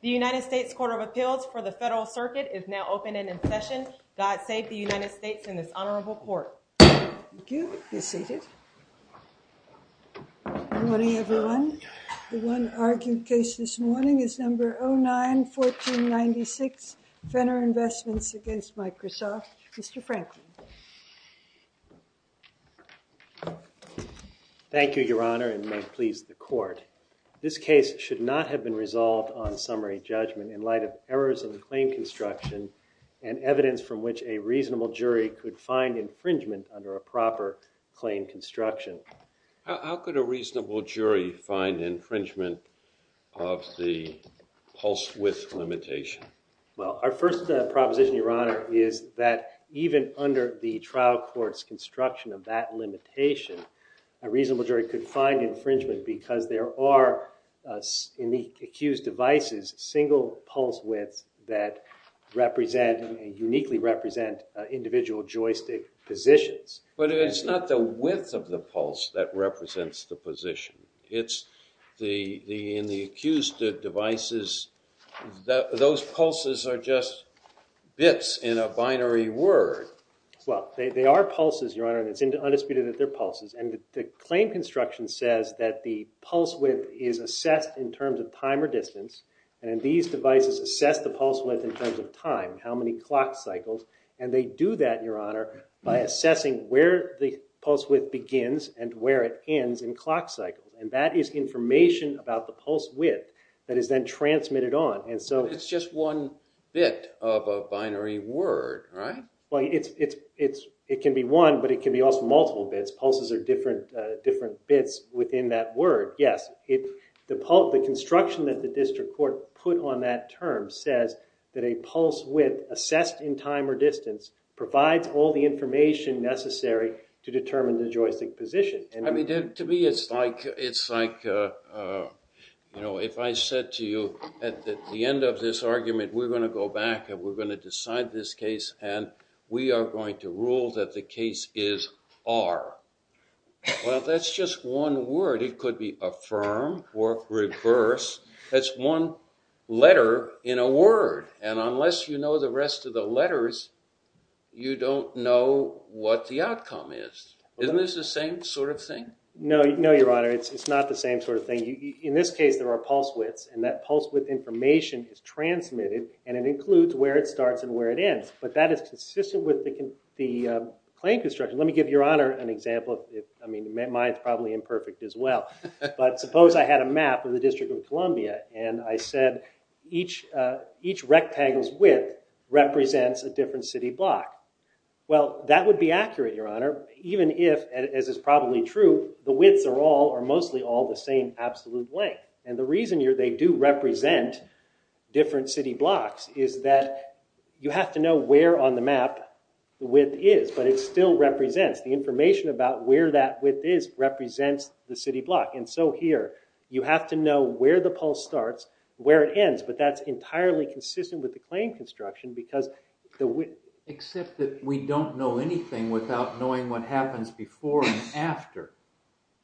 The United States Court of Appeals for the Federal Circuit is now open and in session. God save the United States in this honorable court. Thank you. Be seated. Good morning, everyone. The one argued case this morning is No. 09-1496, Fenner Investments v. Microsoft. Mr. Franklin. Thank you, Your Honor, and may it please the court. This case should not have been resolved on summary judgment in light of errors of the claim construction and evidence from which a reasonable jury could find infringement under a proper claim construction. How could a reasonable jury find infringement of the Pulse Width Limitation? Well, our first proposition, Your Honor, is that even under the trial court's construction of that limitation, a reasonable jury could find infringement because there are, in the accused devices, single pulse widths that represent and uniquely represent individual joystick positions. But it's not the width of the pulse that represents the position. In the accused devices, those pulses are just bits in a binary word. Well, they are pulses, Your Honor, and it's undisputed that they're pulses. And the claim construction says that the pulse width is assessed in terms of time or distance, and these devices assess the pulse width in terms of time, how many clock cycles, and they do that, Your Honor, by assessing where the pulse width begins and where it ends in clock cycles. And that is information about the pulse width that is then transmitted on. But it's just one bit of a binary word, right? Well, it can be one, but it can be also multiple bits. Pulses are different bits within that word. Yes, the construction that the district court put on that term says that a pulse width assessed in time or distance provides all the information necessary to determine the joystick position. To me, it's like if I said to you at the end of this argument, we're going to go back and we're going to decide this case, and we are going to rule that the case is R. Well, that's just one word. It could be affirm or reverse. That's one letter in a word. And unless you know the rest of the letters, you don't know what the outcome is. Isn't this the same sort of thing? No, Your Honor. It's not the same sort of thing. In this case, there are pulse widths, and that pulse width information is transmitted, and it includes where it starts and where it ends. But that is consistent with the claim construction. Let me give Your Honor an example. I mean, mine's probably imperfect as well. But suppose I had a map of the District of Columbia, and I said each rectangle's width represents a different city block. Well, that would be accurate, Your Honor, even if, as is probably true, the widths are all or mostly all the same absolute length. And the reason they do represent different city blocks is that you have to know where on the map the width is, but it still represents. The information about where that width is represents the city block. And so here, you have to know where the pulse starts, where it ends. But that's entirely consistent with the claim construction because the width. Except that we don't know anything without knowing what happens before and after.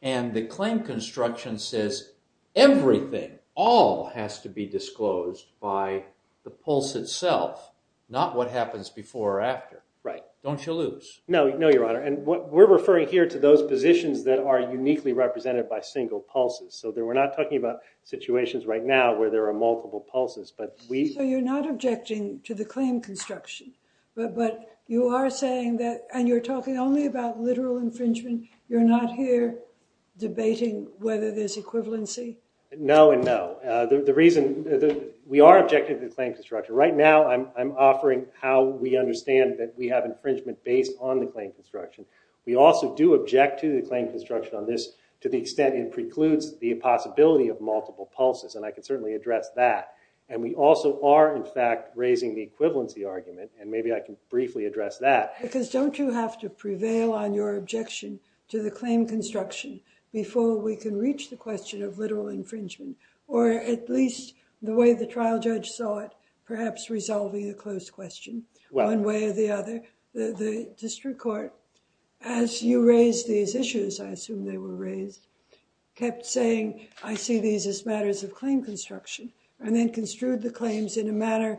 And the claim construction says everything, all has to be disclosed by the pulse itself, not what happens before or after. Right. Don't you lose. No, Your Honor. And we're referring here to those positions that are uniquely represented by single pulses. So we're not talking about situations right now where there are multiple pulses. So you're not objecting to the claim construction. But you are saying that, and you're talking only about literal infringement. You're not here debating whether there's equivalency? No and no. The reason, we are objecting to the claim construction. Right now, I'm offering how we understand that we have infringement based on the claim construction. We also do object to the claim construction on this to the extent it precludes the possibility of multiple pulses. And I can certainly address that. And we also are, in fact, raising the equivalency argument. And maybe I can briefly address that. Because don't you have to prevail on your objection to the claim construction before we can reach the question of literal infringement? Or at least the way the trial judge saw it, perhaps resolving the closed question one way or the other. The district court, as you raised these issues, I assume they were raised, kept saying, I see these as matters of claim construction. And then construed the claims in a manner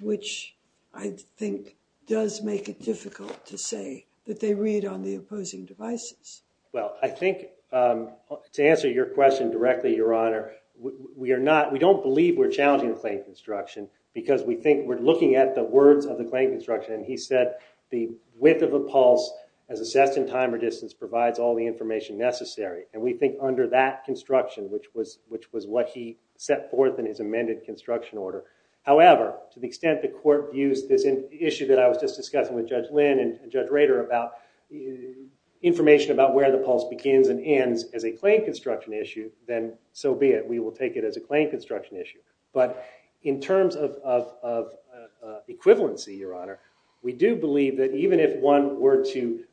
which I think does make it difficult to say that they read on the opposing devices. Well, I think to answer your question directly, Your Honor, we don't believe we're challenging the claim construction. Because we think we're looking at the words of the claim construction. And he said the width of a pulse as assessed in time or distance provides all the information necessary. And we think under that construction, which was what he set forth in his amended construction order. However, to the extent the court views this issue that I was just discussing with Judge Lynn and Judge Rader about information about where the pulse begins and ends as a claim construction issue, then so be it. We will take it as a claim construction issue. But in terms of equivalency, Your Honor, we do believe that even if one were to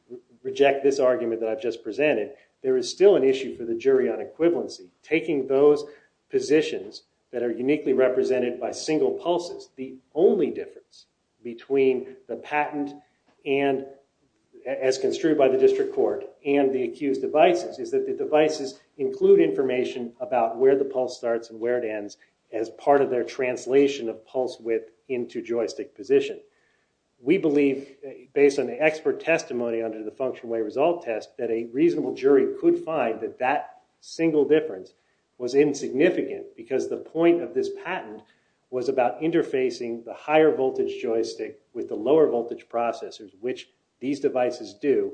reject this argument that I've just presented, there is still an issue for the jury on equivalency. Taking those positions that are uniquely represented by single pulses, the only difference between the patent as construed by the district court and the accused devices is that the devices include information about where the pulse starts and where it ends as part of their translation of pulse width into joystick position. We believe, based on the expert testimony under the function way result test, that a reasonable jury could find that that single difference was insignificant because the point of this patent was about interfacing the higher voltage joystick with the lower voltage processors, which these devices do,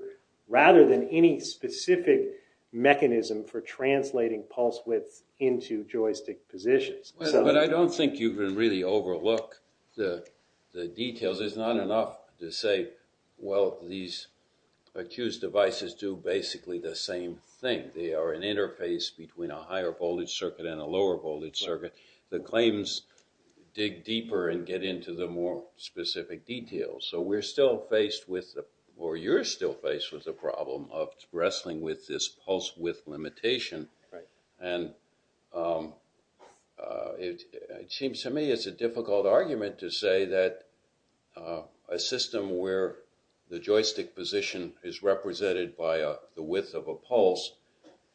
rather than any specific mechanism for translating pulse width into joystick positions. But I don't think you can really overlook the details. It's not enough to say, well, these accused devices do basically the same thing. They are an interface between a higher voltage circuit and a lower voltage circuit. The claims dig deeper and get into the more specific details. So we're still faced with, or you're still faced with the problem of wrestling with this pulse width limitation. And it seems to me it's a difficult argument to say that a system where the joystick position is represented by the width of a pulse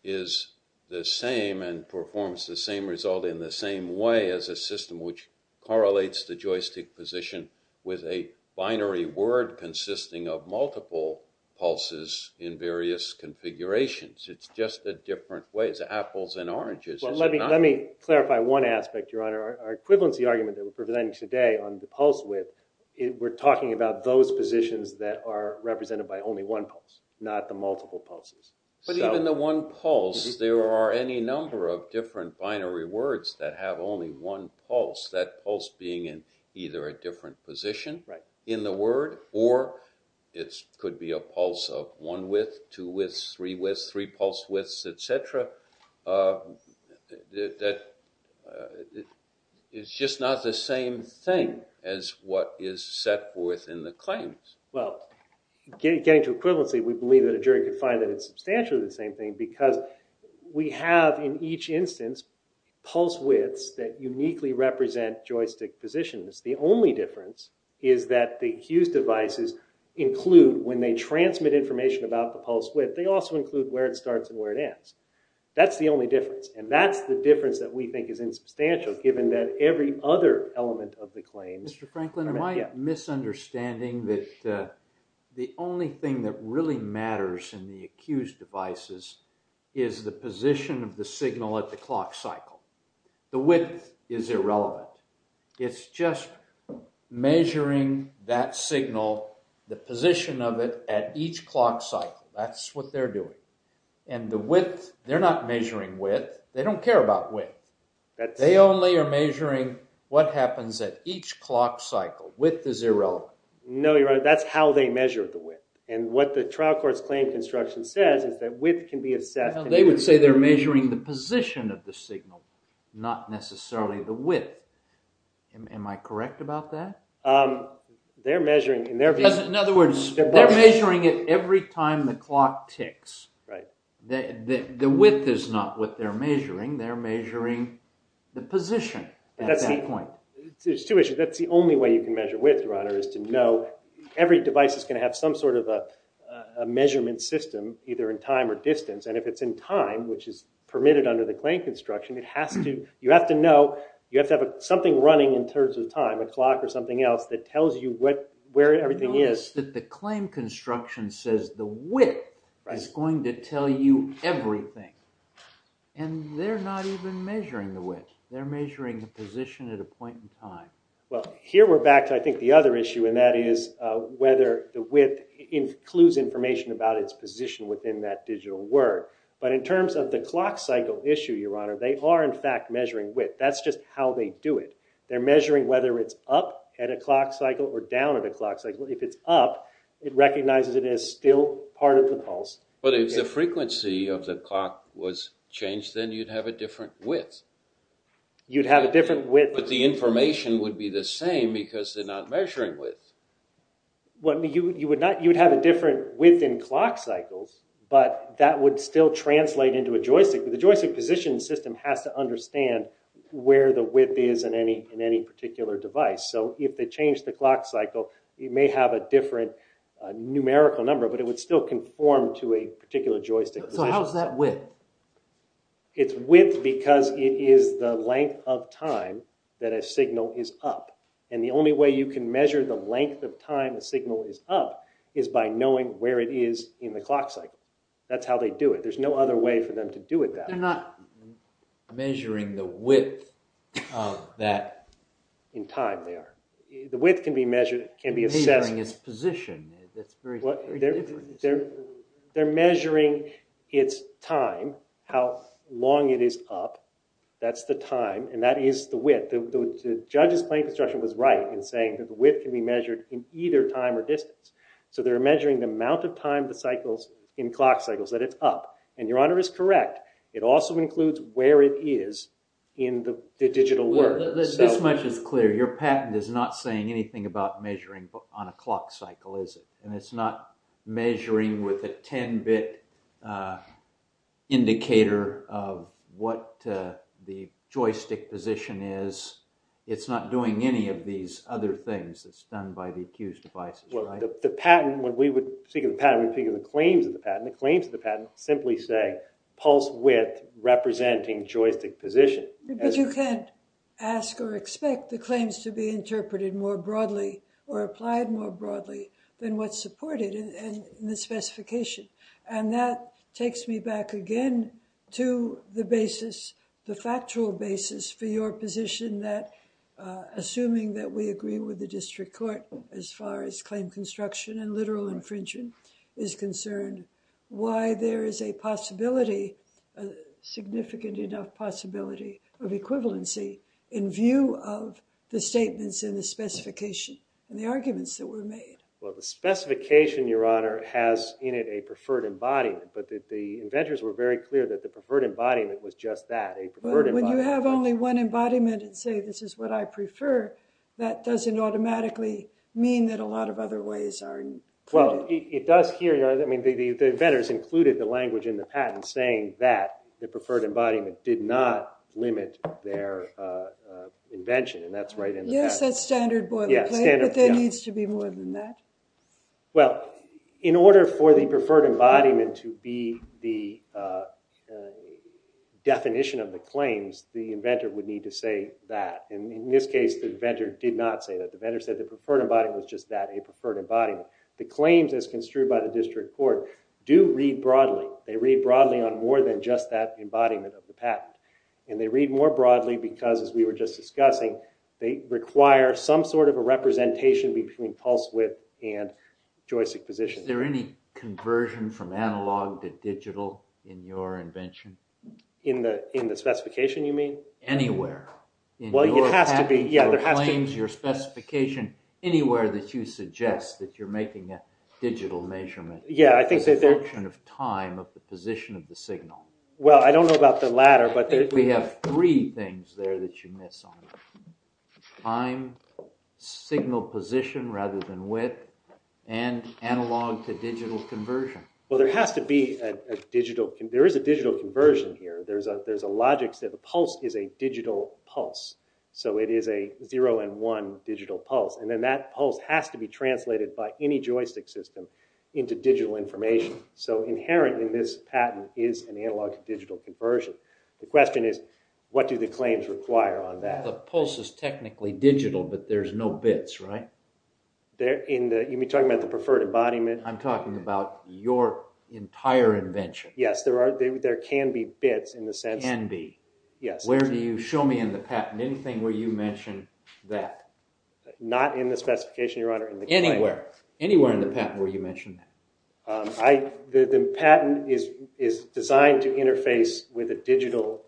is the same and performs the same result in the same way as a system which correlates the joystick position with a binary word consisting of multiple pulses in various configurations. It's just a different way. It's apples and oranges. Let me clarify one aspect, Your Honor. Our equivalency argument that we're presenting today on the pulse width, we're talking about those positions that are represented by only one pulse, not the multiple pulses. But even the one pulse, there are any number of different binary words that have only one pulse, that pulse being in either a different position in the word, or it could be a pulse of one width, two widths, three widths, three pulse widths, etc. It's just not the same thing as what is set forth in the claims. Well, getting to equivalency, we believe that a jury could find that it's substantially the same thing because we have, in each instance, pulse widths that uniquely represent joystick positions. The only difference is that the accused devices include, when they transmit information about the pulse width, they also include where it starts and where it ends. That's the only difference, and that's the difference that we think is insubstantial given that every other element of the claims... Mr. Franklin, am I misunderstanding that the only thing that really matters in the accused devices is the position of the signal at the clock cycle? The width is irrelevant. It's just measuring that signal, the position of it, at each clock cycle. That's what they're doing. And the width, they're not measuring width. They don't care about width. They only are measuring what happens at each clock cycle. Width is irrelevant. No, Your Honor, that's how they measure the width. And what the trial court's claim construction says is that width can be assessed... They would say they're measuring the position of the signal, not necessarily the width. Am I correct about that? In other words, they're measuring it every time the clock ticks. The width is not what they're measuring. They're measuring the position at that point. There's two issues. That's the only way you can measure width, Your Honor, is to know every device is going to have some sort of a measurement system, either in time or distance. And if it's in time, which is permitted under the claim construction, you have to know you have to have something running in terms of time, a clock or something else, that tells you where everything is. Notice that the claim construction says the width is going to tell you everything. And they're not even measuring the width. They're measuring the position at a point in time. Well, here we're back to, I think, the other issue, and that is whether the width includes information about its position within that digital word. But in terms of the clock cycle issue, Your Honor, they are, in fact, measuring width. That's just how they do it. They're measuring whether it's up at a clock cycle or down at a clock cycle. If it's up, it recognizes it as still part of the pulse. But if the frequency of the clock was changed, then you'd have a different width. You'd have a different width. But the information would be the same because they're not measuring width. You would have a different width in clock cycles, but that would still translate into a joystick. The joystick position system has to understand where the width is in any particular device. So if they change the clock cycle, it may have a different numerical number, but it would still conform to a particular joystick. So how's that width? It's width because it is the length of time that a signal is up. And the only way you can measure the length of time a signal is up is by knowing where it is in the clock cycle. That's how they do it. There's no other way for them to do it that way. They're not measuring the width of that. In time, they are. The width can be assessed. They're not measuring its position. They're measuring its time, how long it is up. That's the time, and that is the width. The judge's plain construction was right in saying that the width can be measured in either time or distance. So they're measuring the amount of time in clock cycles that it's up. And Your Honor is correct. It also includes where it is in the digital world. This much is clear. Your patent is not saying anything about measuring on a clock cycle, is it? And it's not measuring with a 10-bit indicator of what the joystick position is. It's not doing any of these other things that's done by the accused devices, right? The patent, when we would speak of the patent, we would speak of the claims of the patent. The claims of the patent simply say pulse width representing joystick position. But you can't ask or expect the claims to be interpreted more broadly or applied more broadly than what's supported in the specification. And that takes me back again to the basis, the factual basis for your position that, assuming that we agree with the district court as far as claim construction and literal infringement is concerned, why there is a possibility, a significant enough possibility of equivalency in view of the statements in the specification and the arguments that were made. Well, the specification, Your Honor, has in it a preferred embodiment. But the inventors were very clear that the preferred embodiment was just that, a preferred embodiment. When you have only one embodiment and say, this is what I prefer, that doesn't automatically mean that a lot of other ways are included. Well, it does here. The inventors included the language in the patent saying that the preferred embodiment did not limit their invention. And that's right in the patent. Yes, that's standard boilerplate, but there needs to be more than that. Well, in order for the preferred embodiment to be the definition of the claims, the inventor would need to say that. And in this case, the inventor did not say that. The inventor said the preferred embodiment was just that, a preferred embodiment. The claims as construed by the district court do read broadly. They read broadly on more than just that embodiment of the patent. And they read more broadly because, as we were just discussing, they require some sort of a representation between pulse width and joystick position. Is there any conversion from analog to digital in your invention? In the specification, you mean? Anywhere. Well, it has to be. In your patent, your claims, your specification, anywhere that you suggest that you're making a digital measurement. Yeah, I think that there... As a function of time, of the position of the signal. Well, I don't know about the latter, but... We have three things there that you miss on. Time, signal position rather than width, and analog to digital conversion. Well, there has to be a digital... There is a digital conversion here. There's a logic that the pulse is a digital pulse. So it is a zero and one digital pulse. And then that pulse has to be translated by any joystick system into digital information. So inherent in this patent is an analog to digital conversion. The question is, what do the claims require on that? The pulse is technically digital, but there's no bits, right? You mean talking about the preferred embodiment? I'm talking about your entire invention. Yes, there can be bits in the sense... Can be. Yes. Where do you show me in the patent? Anything where you mention that. Not in the specification, Your Honor, in the claim. Anywhere. Anywhere in the patent where you mention that. The patent is designed to interface with a digital...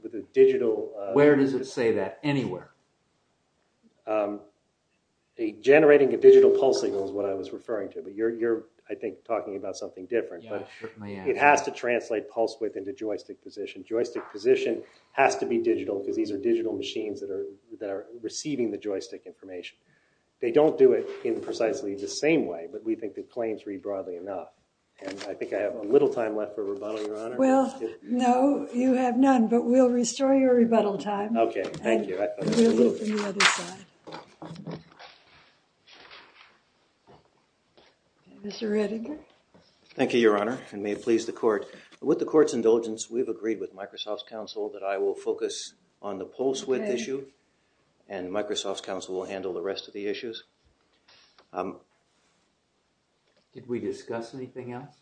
Where does it say that? Anywhere. Generating a digital pulse signal is what I was referring to. But you're, I think, talking about something different. Yeah, certainly I am. It has to translate pulse width into joystick position. Joystick position has to be digital because these are digital machines that are receiving the joystick information. They don't do it in precisely the same way, but we think the claims read broadly enough. And I think I have a little time left for rebuttal, Your Honor. Well, no, you have none. But we'll restore your rebuttal time. Okay, thank you. And we'll move to the other side. Mr. Redinger. Thank you, Your Honor, and may it please the court. With the court's indulgence, we've agreed with Microsoft's counsel that I will focus on the pulse width issue. And Microsoft's counsel will handle the rest of the issues. Did we discuss anything else?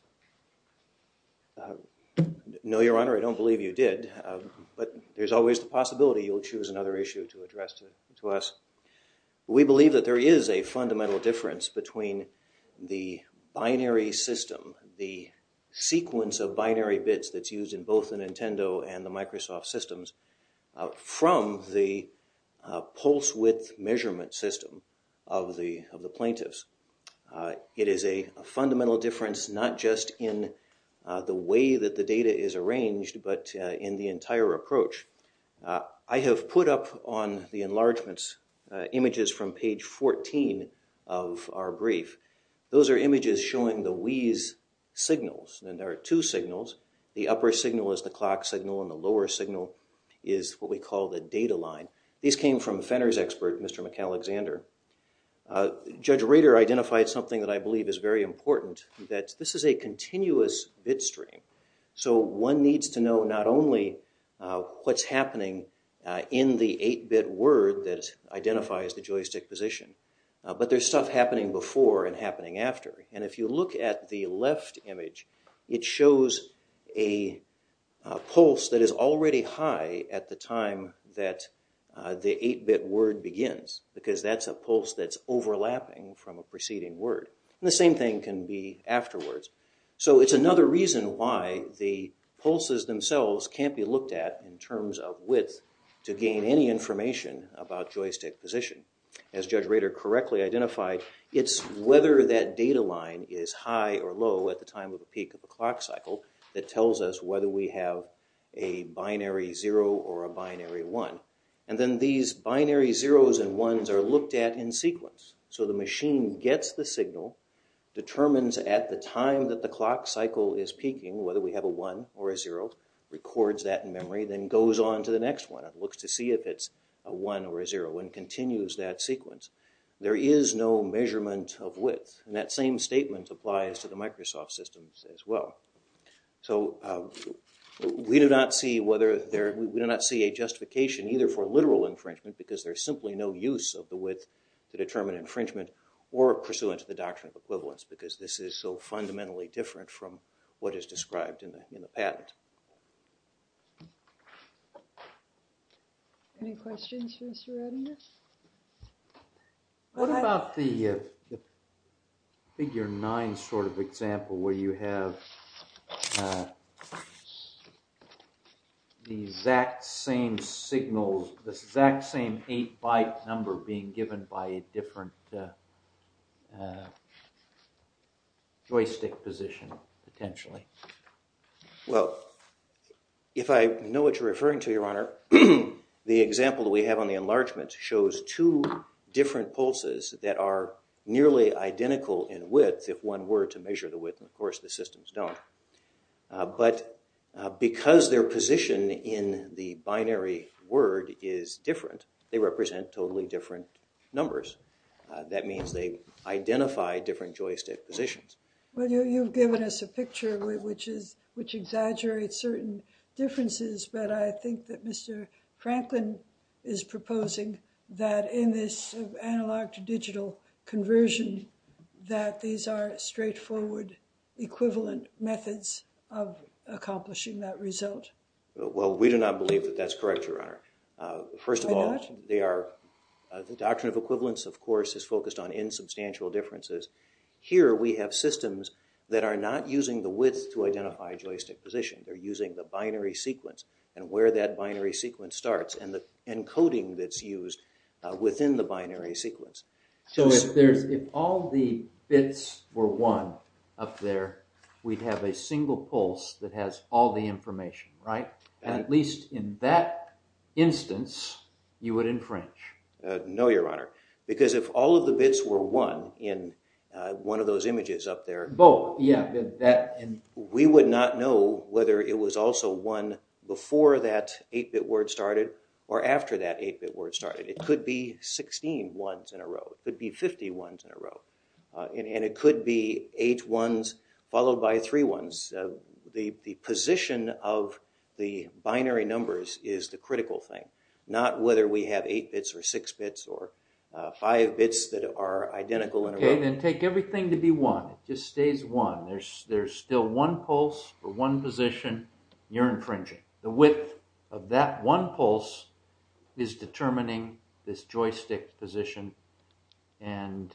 No, Your Honor, I don't believe you did. But there's always the possibility you'll choose another issue to address to us. We believe that there is a fundamental difference between the binary system, the sequence of binary bits that's used in both the Nintendo and the Microsoft systems, from the pulse width measurement system of the plaintiffs. It is a fundamental difference not just in the way that the data is arranged, but in the entire approach. I have put up on the enlargements images from page 14 of our brief. Those are images showing the Wii's signals, and there are two signals. The upper signal is the clock signal, and the lower signal is what we call the data line. These came from Fenner's expert, Mr. McAlexander. Judge Rader identified something that I believe is very important, that this is a continuous bit stream. So one needs to know not only what's happening in the 8-bit word that identifies the joystick position, but there's stuff happening before and happening after. And if you look at the left image, it shows a pulse that is already high at the time that the 8-bit word begins, because that's a pulse that's overlapping from a preceding word. And the same thing can be afterwards. So it's another reason why the pulses themselves can't be looked at in terms of width to gain any information about joystick position. As Judge Rader correctly identified, it's whether that data line is high or low at the time of the peak of the clock cycle that tells us whether we have a binary 0 or a binary 1. And then these binary 0's and 1's are looked at in sequence. So the machine gets the signal, determines at the time that the clock cycle is peaking whether we have a 1 or a 0, records that in memory, then goes on to the next one. It looks to see if it's a 1 or a 0 and continues that sequence. There is no measurement of width. And that same statement applies to the Microsoft systems as well. So we do not see a justification either for literal infringement, because there's simply no use of the width to determine infringement, or pursuant to the doctrine of equivalence, because this is so fundamentally different from what is described in the patent. Any questions for Mr. Radinger? What about the figure 9 sort of example where you have the exact same signals, the exact same 8-byte number being given by a different joystick position potentially? Well, if I know what you're referring to, Your Honor, the example that we have on the enlargement shows two different pulses that are nearly identical in width, if one were to measure the width, and of course the systems don't. But because their position in the binary word is different, they represent totally different numbers. That means they identify different joystick positions. Well, you've given us a picture which exaggerates certain differences, but I think that Mr. Franklin is proposing that in this analog-to-digital conversion, that these are straightforward equivalent methods of accomplishing that result. Well, we do not believe that that's correct, Your Honor. First of all, the doctrine of equivalence, of course, is focused on insubstantial differences. Here we have systems that are not using the width to identify joystick position. They're using the binary sequence and where that binary sequence starts and the encoding that's used within the binary sequence. So if all the bits were one up there, we'd have a single pulse that has all the information, right? And at least in that instance, you would infringe. No, Your Honor, because if all of the bits were one in one of those images up there, we would not know whether it was also one before that 8-bit word started or after that 8-bit word started. It could be 16 ones in a row. It could be 50 ones in a row. And it could be 8 ones followed by 3 ones. The position of the binary numbers is the critical thing, not whether we have 8 bits or 6 bits or 5 bits that are identical in a row. Okay, then take everything to be one. It just stays one. There's still one pulse for one position you're infringing. The width of that one pulse is determining this joystick position and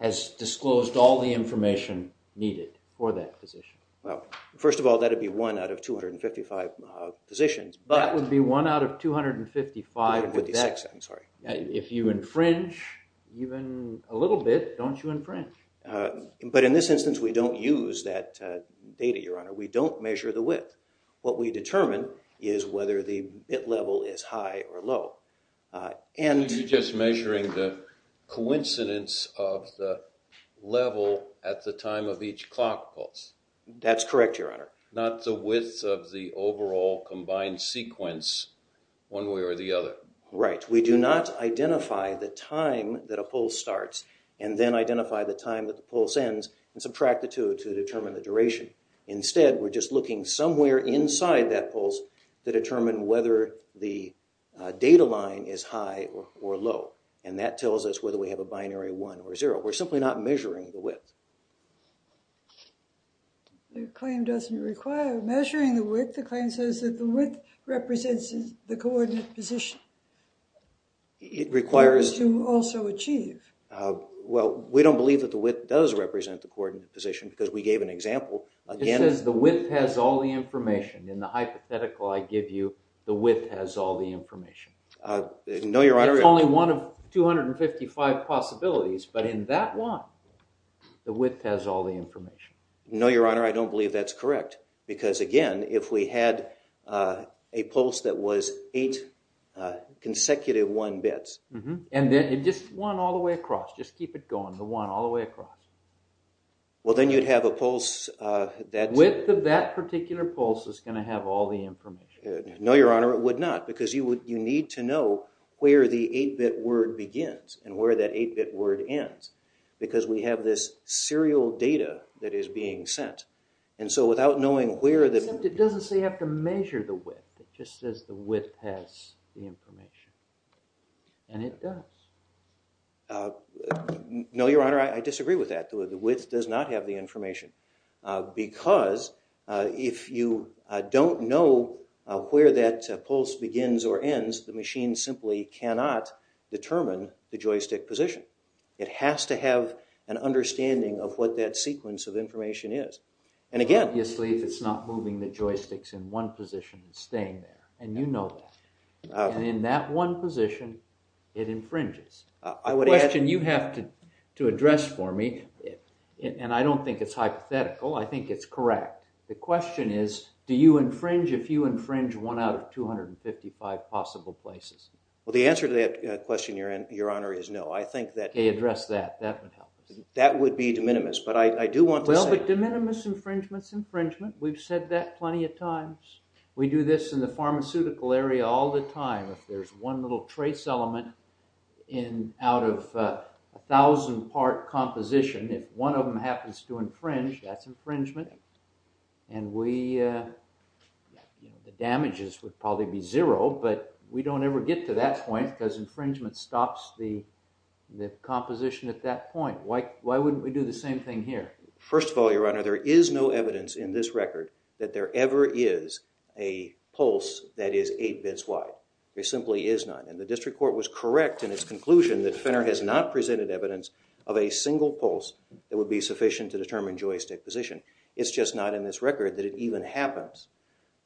has disclosed all the information needed for that position. Well, first of all, that would be one out of 255 positions. That would be one out of 255 of that. If you infringe even a little bit, don't you infringe. But in this instance, we don't use that data, Your Honor. We don't measure the width. What we determine is whether the bit level is high or low. Are you just measuring the coincidence of the level at the time of each clock pulse? That's correct, Your Honor. Not the width of the overall combined sequence one way or the other. Right. We do not identify the time that a pulse starts and then identify the time that the pulse ends and subtract the two to determine the duration. Instead, we're just looking somewhere inside that pulse to determine whether the data line is high or low. And that tells us whether we have a binary 1 or 0. We're simply not measuring the width. The claim doesn't require measuring the width. The claim says that the width represents the coordinate position. It requires to also achieve. Well, we don't believe that the width does represent the coordinate position because we gave an example. It says the width has all the information. In the hypothetical I give you, the width has all the information. No, Your Honor. It's only one of 255 possibilities. But in that one, the width has all the information. No, Your Honor. I don't believe that's correct. Because, again, if we had a pulse that was eight consecutive one bits. And then just one all the way across. Just keep it going. The one all the way across. Well, then you'd have a pulse that's... Width of that particular pulse is going to have all the information. No, Your Honor. It would not. Because you need to know where the eight-bit word begins and where that eight-bit word ends. Because we have this serial data that is being sent. And so without knowing where the... It doesn't say you have to measure the width. It just says the width has the information. And it does. No, Your Honor. I disagree with that. The width does not have the information. Because if you don't know where that pulse begins or ends, the machine simply cannot determine the joystick position. It has to have an understanding of what that sequence of information is. And again... Obviously, if it's not moving the joysticks in one position, it's staying there. And you know that. And in that one position, it infringes. The question you have to address for me, and I don't think it's hypothetical, I think it's correct. The question is, do you infringe if you infringe one out of 255 possible places? Well, the answer to that question, Your Honor, is no. I think that... Okay, address that. That would help us. That would be de minimis. But I do want to say... Well, but de minimis infringement is infringement. We've said that plenty of times. We do this in the pharmaceutical area all the time. If there's one little trace element out of a thousand-part composition, if one of them happens to infringe, that's infringement. And we... The damages would probably be zero, but we don't ever get to that point because infringement stops the composition at that point. Why wouldn't we do the same thing here? First of all, Your Honor, there is no evidence in this record that there ever is a pulse that is eight bits wide. There simply is none. And the district court was correct in its conclusion that Fenner has not presented evidence of a single pulse that would be sufficient to determine joystick position. It's just not in this record that it even happens.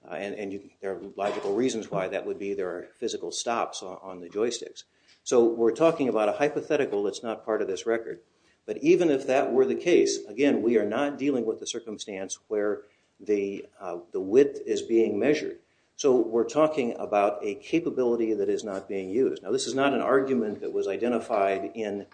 And there are logical reasons why that would be. There are physical stops on the joysticks. So we're talking about a hypothetical that's not part of this record. But even if that were the case, again, we are not dealing with the circumstance where the width is being measured. So we're talking about a capability that is not being used. Now, this is not an argument that was identified in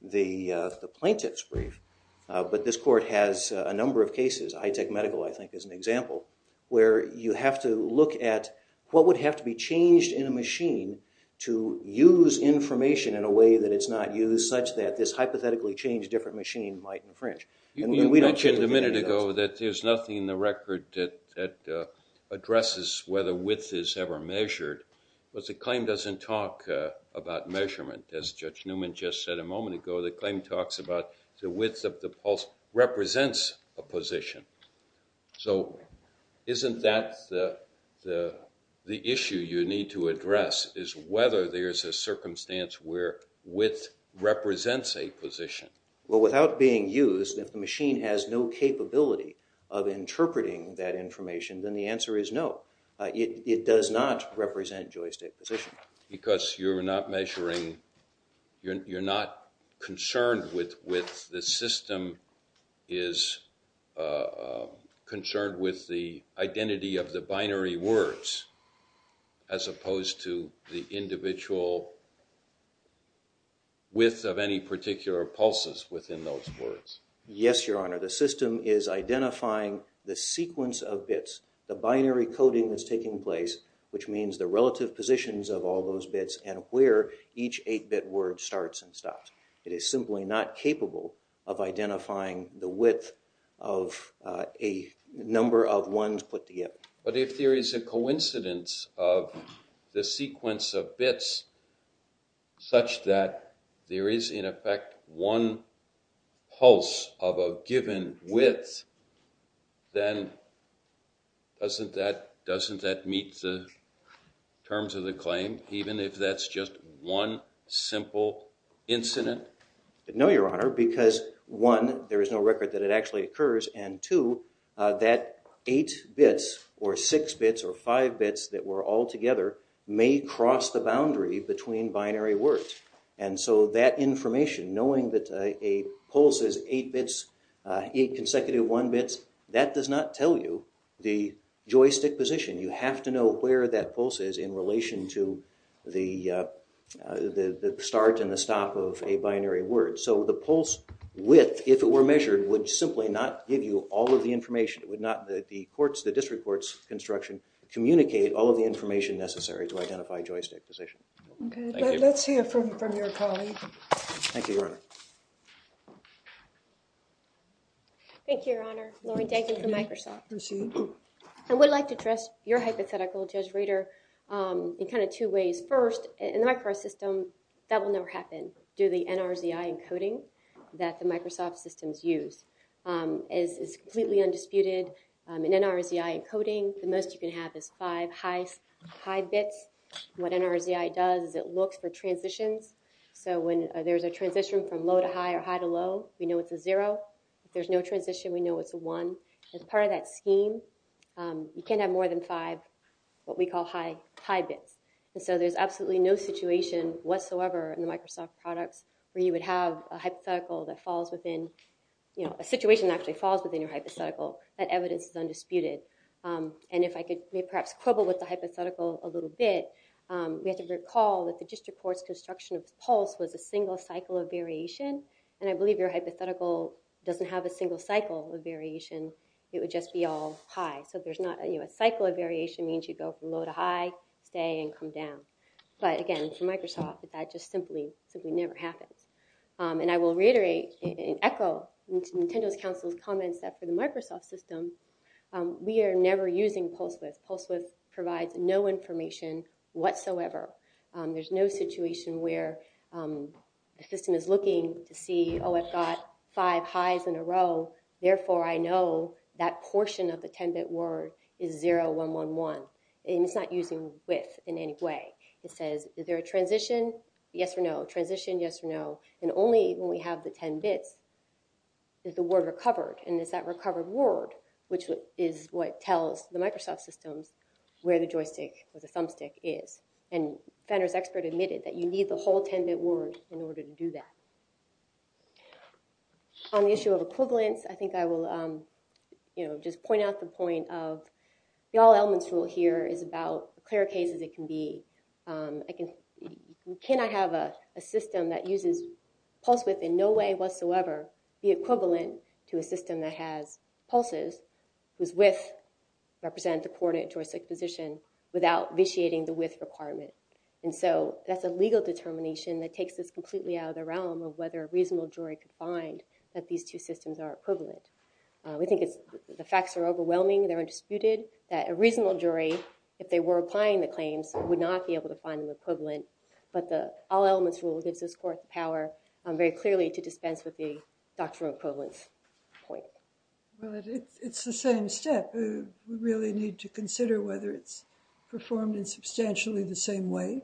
the plaintiff's brief, but this court has a number of cases, high-tech medical, I think, is an example, where you have to look at what would have to be changed in a machine to use information in a way that it's not used, such that this hypothetically changed different machine might infringe. You mentioned a minute ago that there's nothing in the record that addresses whether width is ever measured. But the claim doesn't talk about measurement. As Judge Newman just said a moment ago, the claim talks about the width of the pulse represents a position. So isn't that the issue you need to address, is whether there's a circumstance where width represents a position? Well, without being used, if the machine has no capability of interpreting that information, then the answer is no. It does not represent joystick position. Because you're not measuring, you're not concerned with width. The system is concerned with the identity of the binary words as opposed to the individual width of any particular pulses within those words. Yes, Your Honor. The system is identifying the sequence of bits, the binary coding that's taking place, which means the relative positions of all those bits and where each eight-bit word starts and stops. It is simply not capable of identifying the width of a number of ones put together. But if there is a coincidence of the sequence of bits such that there is, in effect, one pulse of a given width, then doesn't that meet the terms of the claim, even if that's just one simple incident? No, Your Honor, because one, there is no record that it actually occurs, and two, that eight bits or six bits or five bits that were all together may cross the boundary between binary words. And so that information, knowing that a pulse is eight bits, eight consecutive one bits, that does not tell you the joystick position. You have to know where that pulse is in relation to the start and the stop of a binary word. So the pulse width, if it were measured, would simply not give you all of the information. It would not let the district court's construction communicate all of the information necessary to identify joystick position. Okay, let's hear from your colleague. Thank you, Your Honor. Thank you, Your Honor. Lori, thank you for Microsoft. Appreciate it. I would like to address your hypothetical, Judge Rader, in kind of two ways. First, in the Microsoft system, that will never happen, due to the NRZI encoding that the Microsoft systems use. It's completely undisputed. In NRZI encoding, the most you can have is five high bits. What NRZI does is it looks for transitions. So when there's a transition from low to high or high to low, we know it's a zero. If there's no transition, we know it's a one. As part of that scheme, you can't have more than five, what we call, high bits. So there's absolutely no situation whatsoever in the Microsoft products where you would have a hypothetical that falls within, you know, a situation that actually falls within your hypothetical. That evidence is undisputed. And if I could perhaps quibble with the hypothetical a little bit, we have to recall that the district court's construction of pulse was a single cycle of variation, and I believe your hypothetical doesn't have a single cycle of variation. It would just be all high. So there's not, you know, a cycle of variation means you go from low to high, stay, and come down. But, again, for Microsoft, that just simply never happens. And I will reiterate and echo Nintendo's counsel's comments that for the Microsoft system, we are never using PulseWidth. PulseWidth provides no information whatsoever. There's no situation where the system is looking to see, oh, I've got five highs in a row, therefore I know that portion of the 10-bit word is 0111. And it's not using width in any way. It says, is there a transition? Yes or no. Transition, yes or no. And only when we have the 10 bits is the word recovered, and it's that recovered word which is what tells the Microsoft systems where the joystick or the thumbstick is. And Fenner's expert admitted that you need the whole 10-bit word in order to do that. On the issue of equivalence, I think I will, you know, just point out the point of the all elements rule here is about as clear a case as it can be. Can I have a system that uses PulseWidth in no way whatsoever be equivalent to a system that has pulses whose width represent the coordinate joystick position without vitiating the width requirement? And so that's a legal determination that takes this completely out of the realm of whether a reasonable jury could find that these two systems are equivalent. We think the facts are overwhelming, they're undisputed, that a reasonable jury, if they were applying the claims, would not be able to find them equivalent. But the all elements rule gives this court the power very clearly to dispense with the doctoral equivalence point. Well, it's the same step. We really need to consider whether it's performed in substantially the same way.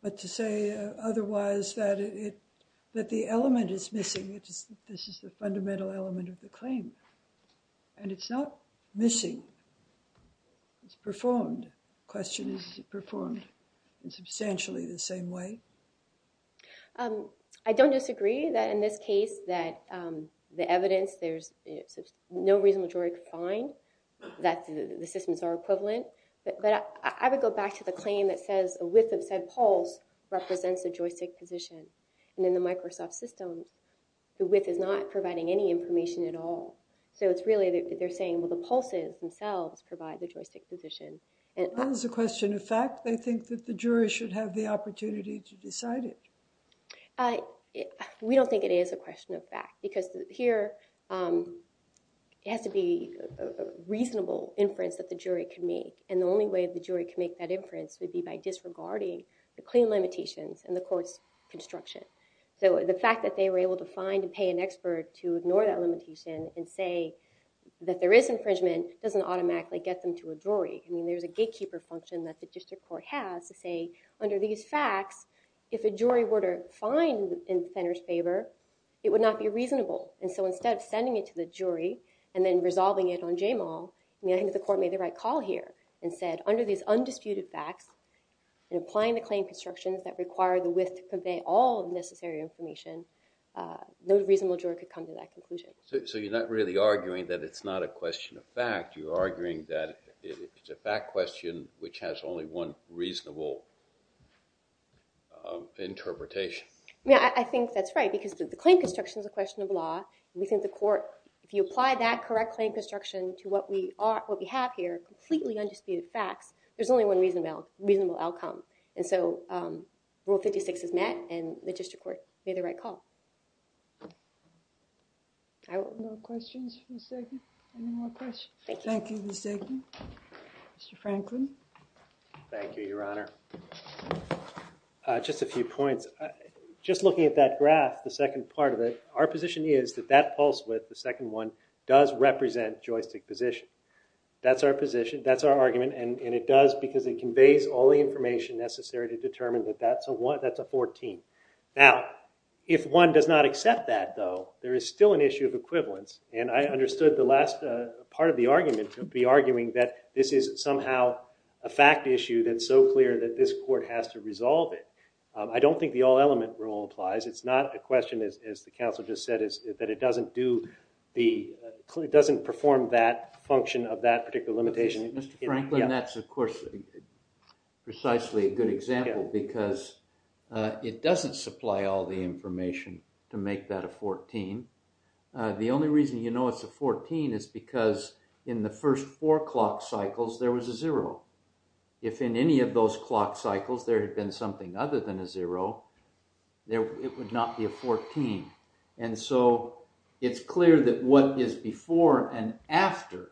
But to say otherwise that the element is missing, this is the fundamental element of the claim. And it's not missing, it's performed. The question is, is it performed in substantially the same way? I don't disagree that in this case that the evidence, there's no reasonable jury could find that the systems are equivalent. But I would go back to the claim that says a width of said pulse represents a joystick position. And in the Microsoft system, the width is not providing any information at all. So it's really that they're saying, well, the pulses themselves provide the joystick position. That is a question of fact. They think that the jury should have the opportunity to decide it. We don't think it is a question of fact. Because here, it has to be a reasonable inference that the jury can make. And the only way the jury can make that inference would be by disregarding the claim limitations and the court's construction. So the fact that they were able to find and pay an expert to ignore that limitation and say that there is infringement doesn't automatically get them to a jury. I mean, there's a gatekeeper function that the district court has to say, under these facts, if a jury were to find in the center's favor, it would not be reasonable. And so instead of sending it to the jury and then resolving it on JMAL, I think the court made the right call here and said, under these undisputed facts and applying the claim constructions that require the width to convey all the necessary information, no reasonable jury could come to that conclusion. So you're not really arguing that it's not a question of fact. You're arguing that it's a fact question, which has only one reasonable interpretation. Yeah, I think that's right, because the claim construction is a question of law. And we think the court, if you apply that correct claim construction to what we have here, completely undisputed facts, there's only one reasonable outcome. And so Rule 56 is met, and the district court made the right call. Any more questions for the second? Any more questions? Thank you. Thank you, Ms. Degden. Mr. Franklin? Thank you, Your Honor. Just a few points. Just looking at that graph, the second part of it, our position is that that pulse width, the second one, does represent joystick position. That's our position. That's our argument. And it does because it conveys all the information necessary to determine that that's a 14. Now, if one does not accept that, though, there is still an issue of equivalence. And I understood the last part of the argument to be arguing that this is somehow a fact issue that's so clear that this court has to resolve it. I don't think the all element rule applies. It's not a question, as the counsel just said, that it doesn't perform that function of that particular limitation. Mr. Franklin, that's, of course, precisely a good example because it doesn't supply all the information to make that a 14. The only reason you know it's a 14 is because in the first four clock cycles, there was a zero. If in any of those clock cycles there had been something other than a zero, it would not be a 14. And so it's clear that what is before and after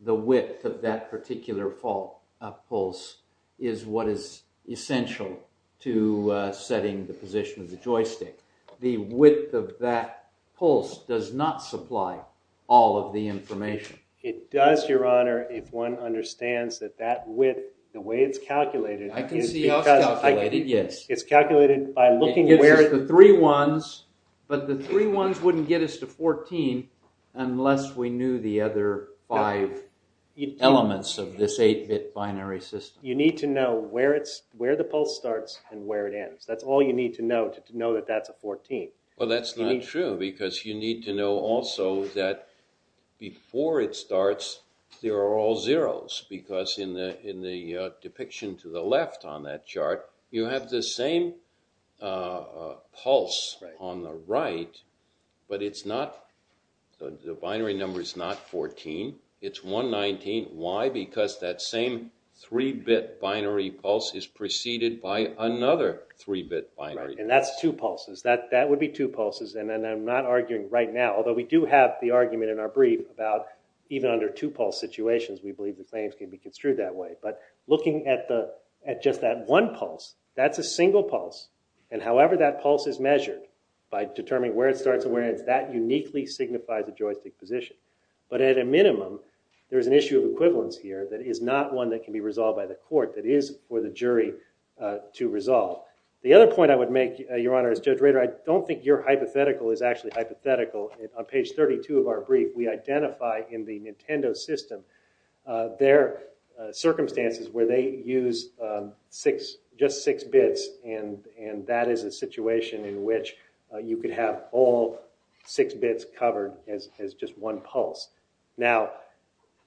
the width of that particular pulse is what is essential to setting the position of the joystick. The width of that pulse does not supply all of the information. It does, Your Honor, if one understands that that width, the way it's calculated is because I can see how it's calculated, yes. It's calculated by looking where It gives us the three ones, but the three ones wouldn't get us to 14 unless we knew the other five elements of this 8-bit binary system. You need to know where the pulse starts and where it ends. That's all you need to know to know that that's a 14. Well, that's not true because you need to know also that before it starts, there are all zeros because in the depiction to the left on that chart, you have the same pulse on the right, but the binary number is not 14. It's 119. Why? Because that same 3-bit binary pulse is preceded by another 3-bit binary. Right, and that's two pulses. That would be two pulses, and I'm not arguing right now, although we do have the argument in our brief about even under two-pulse situations, we believe the claims can be construed that way. But looking at just that one pulse, that's a single pulse, and however that pulse is measured by determining where it starts and where it ends, that uniquely signifies a joystick position. But at a minimum, there's an issue of equivalence here that is not one that can be resolved by the court that is for the jury to resolve. The other point I would make, Your Honor, as Judge Rader, I don't think your hypothetical is actually hypothetical. On page 32 of our brief, we identify in the Nintendo system their circumstances where they use just 6-bits, and that is a situation in which you could have all 6-bits covered as just one pulse. Now,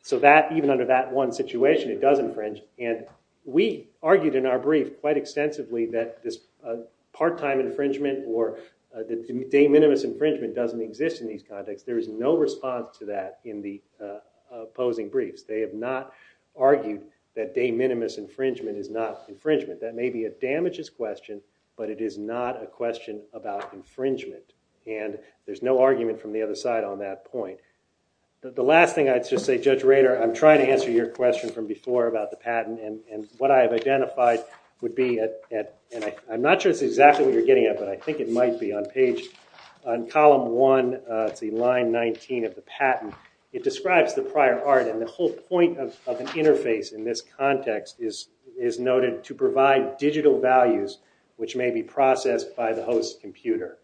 so that, even under that one situation, it does infringe, and we argued in our brief quite extensively that this part-time infringement or the de minimis infringement doesn't exist in these contexts. There is no response to that in the opposing briefs. They have not argued that de minimis infringement is not infringement. That may be a damages question, but it is not a question about infringement, and there's no argument from the other side on that point. The last thing I'd just say, Judge Rader, I'm trying to answer your question from before about the patent, and what I have identified would be at, and I'm not sure this is exactly what you're getting at, but I think it might be, on page, on column 1, it's the line 19 of the patent. It describes the prior art, and the whole point of an interface in this context is noted to provide digital values which may be processed by the host's computer.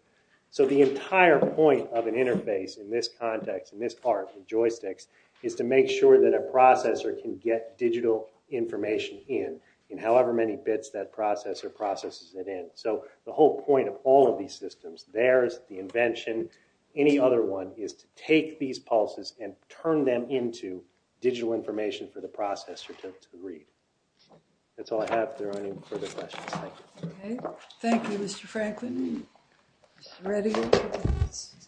So the entire point of an interface in this context, in this part, the joysticks, is to make sure that a processor can get digital information in in however many bits that processor processes it in. So the whole point of all of these systems, theirs, the invention, any other one, is to take these pulses and turn them into digital information for the processor to read. That's all I have. If there are any further questions. Thank you, Mr. Franklin. Mr. Redding.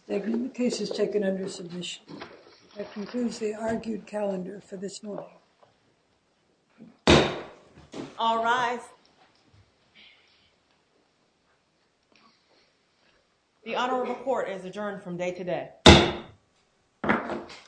The case is taken under submission. That concludes the argued calendar for this morning. All rise. The Honorable Court is adjourned from day to day.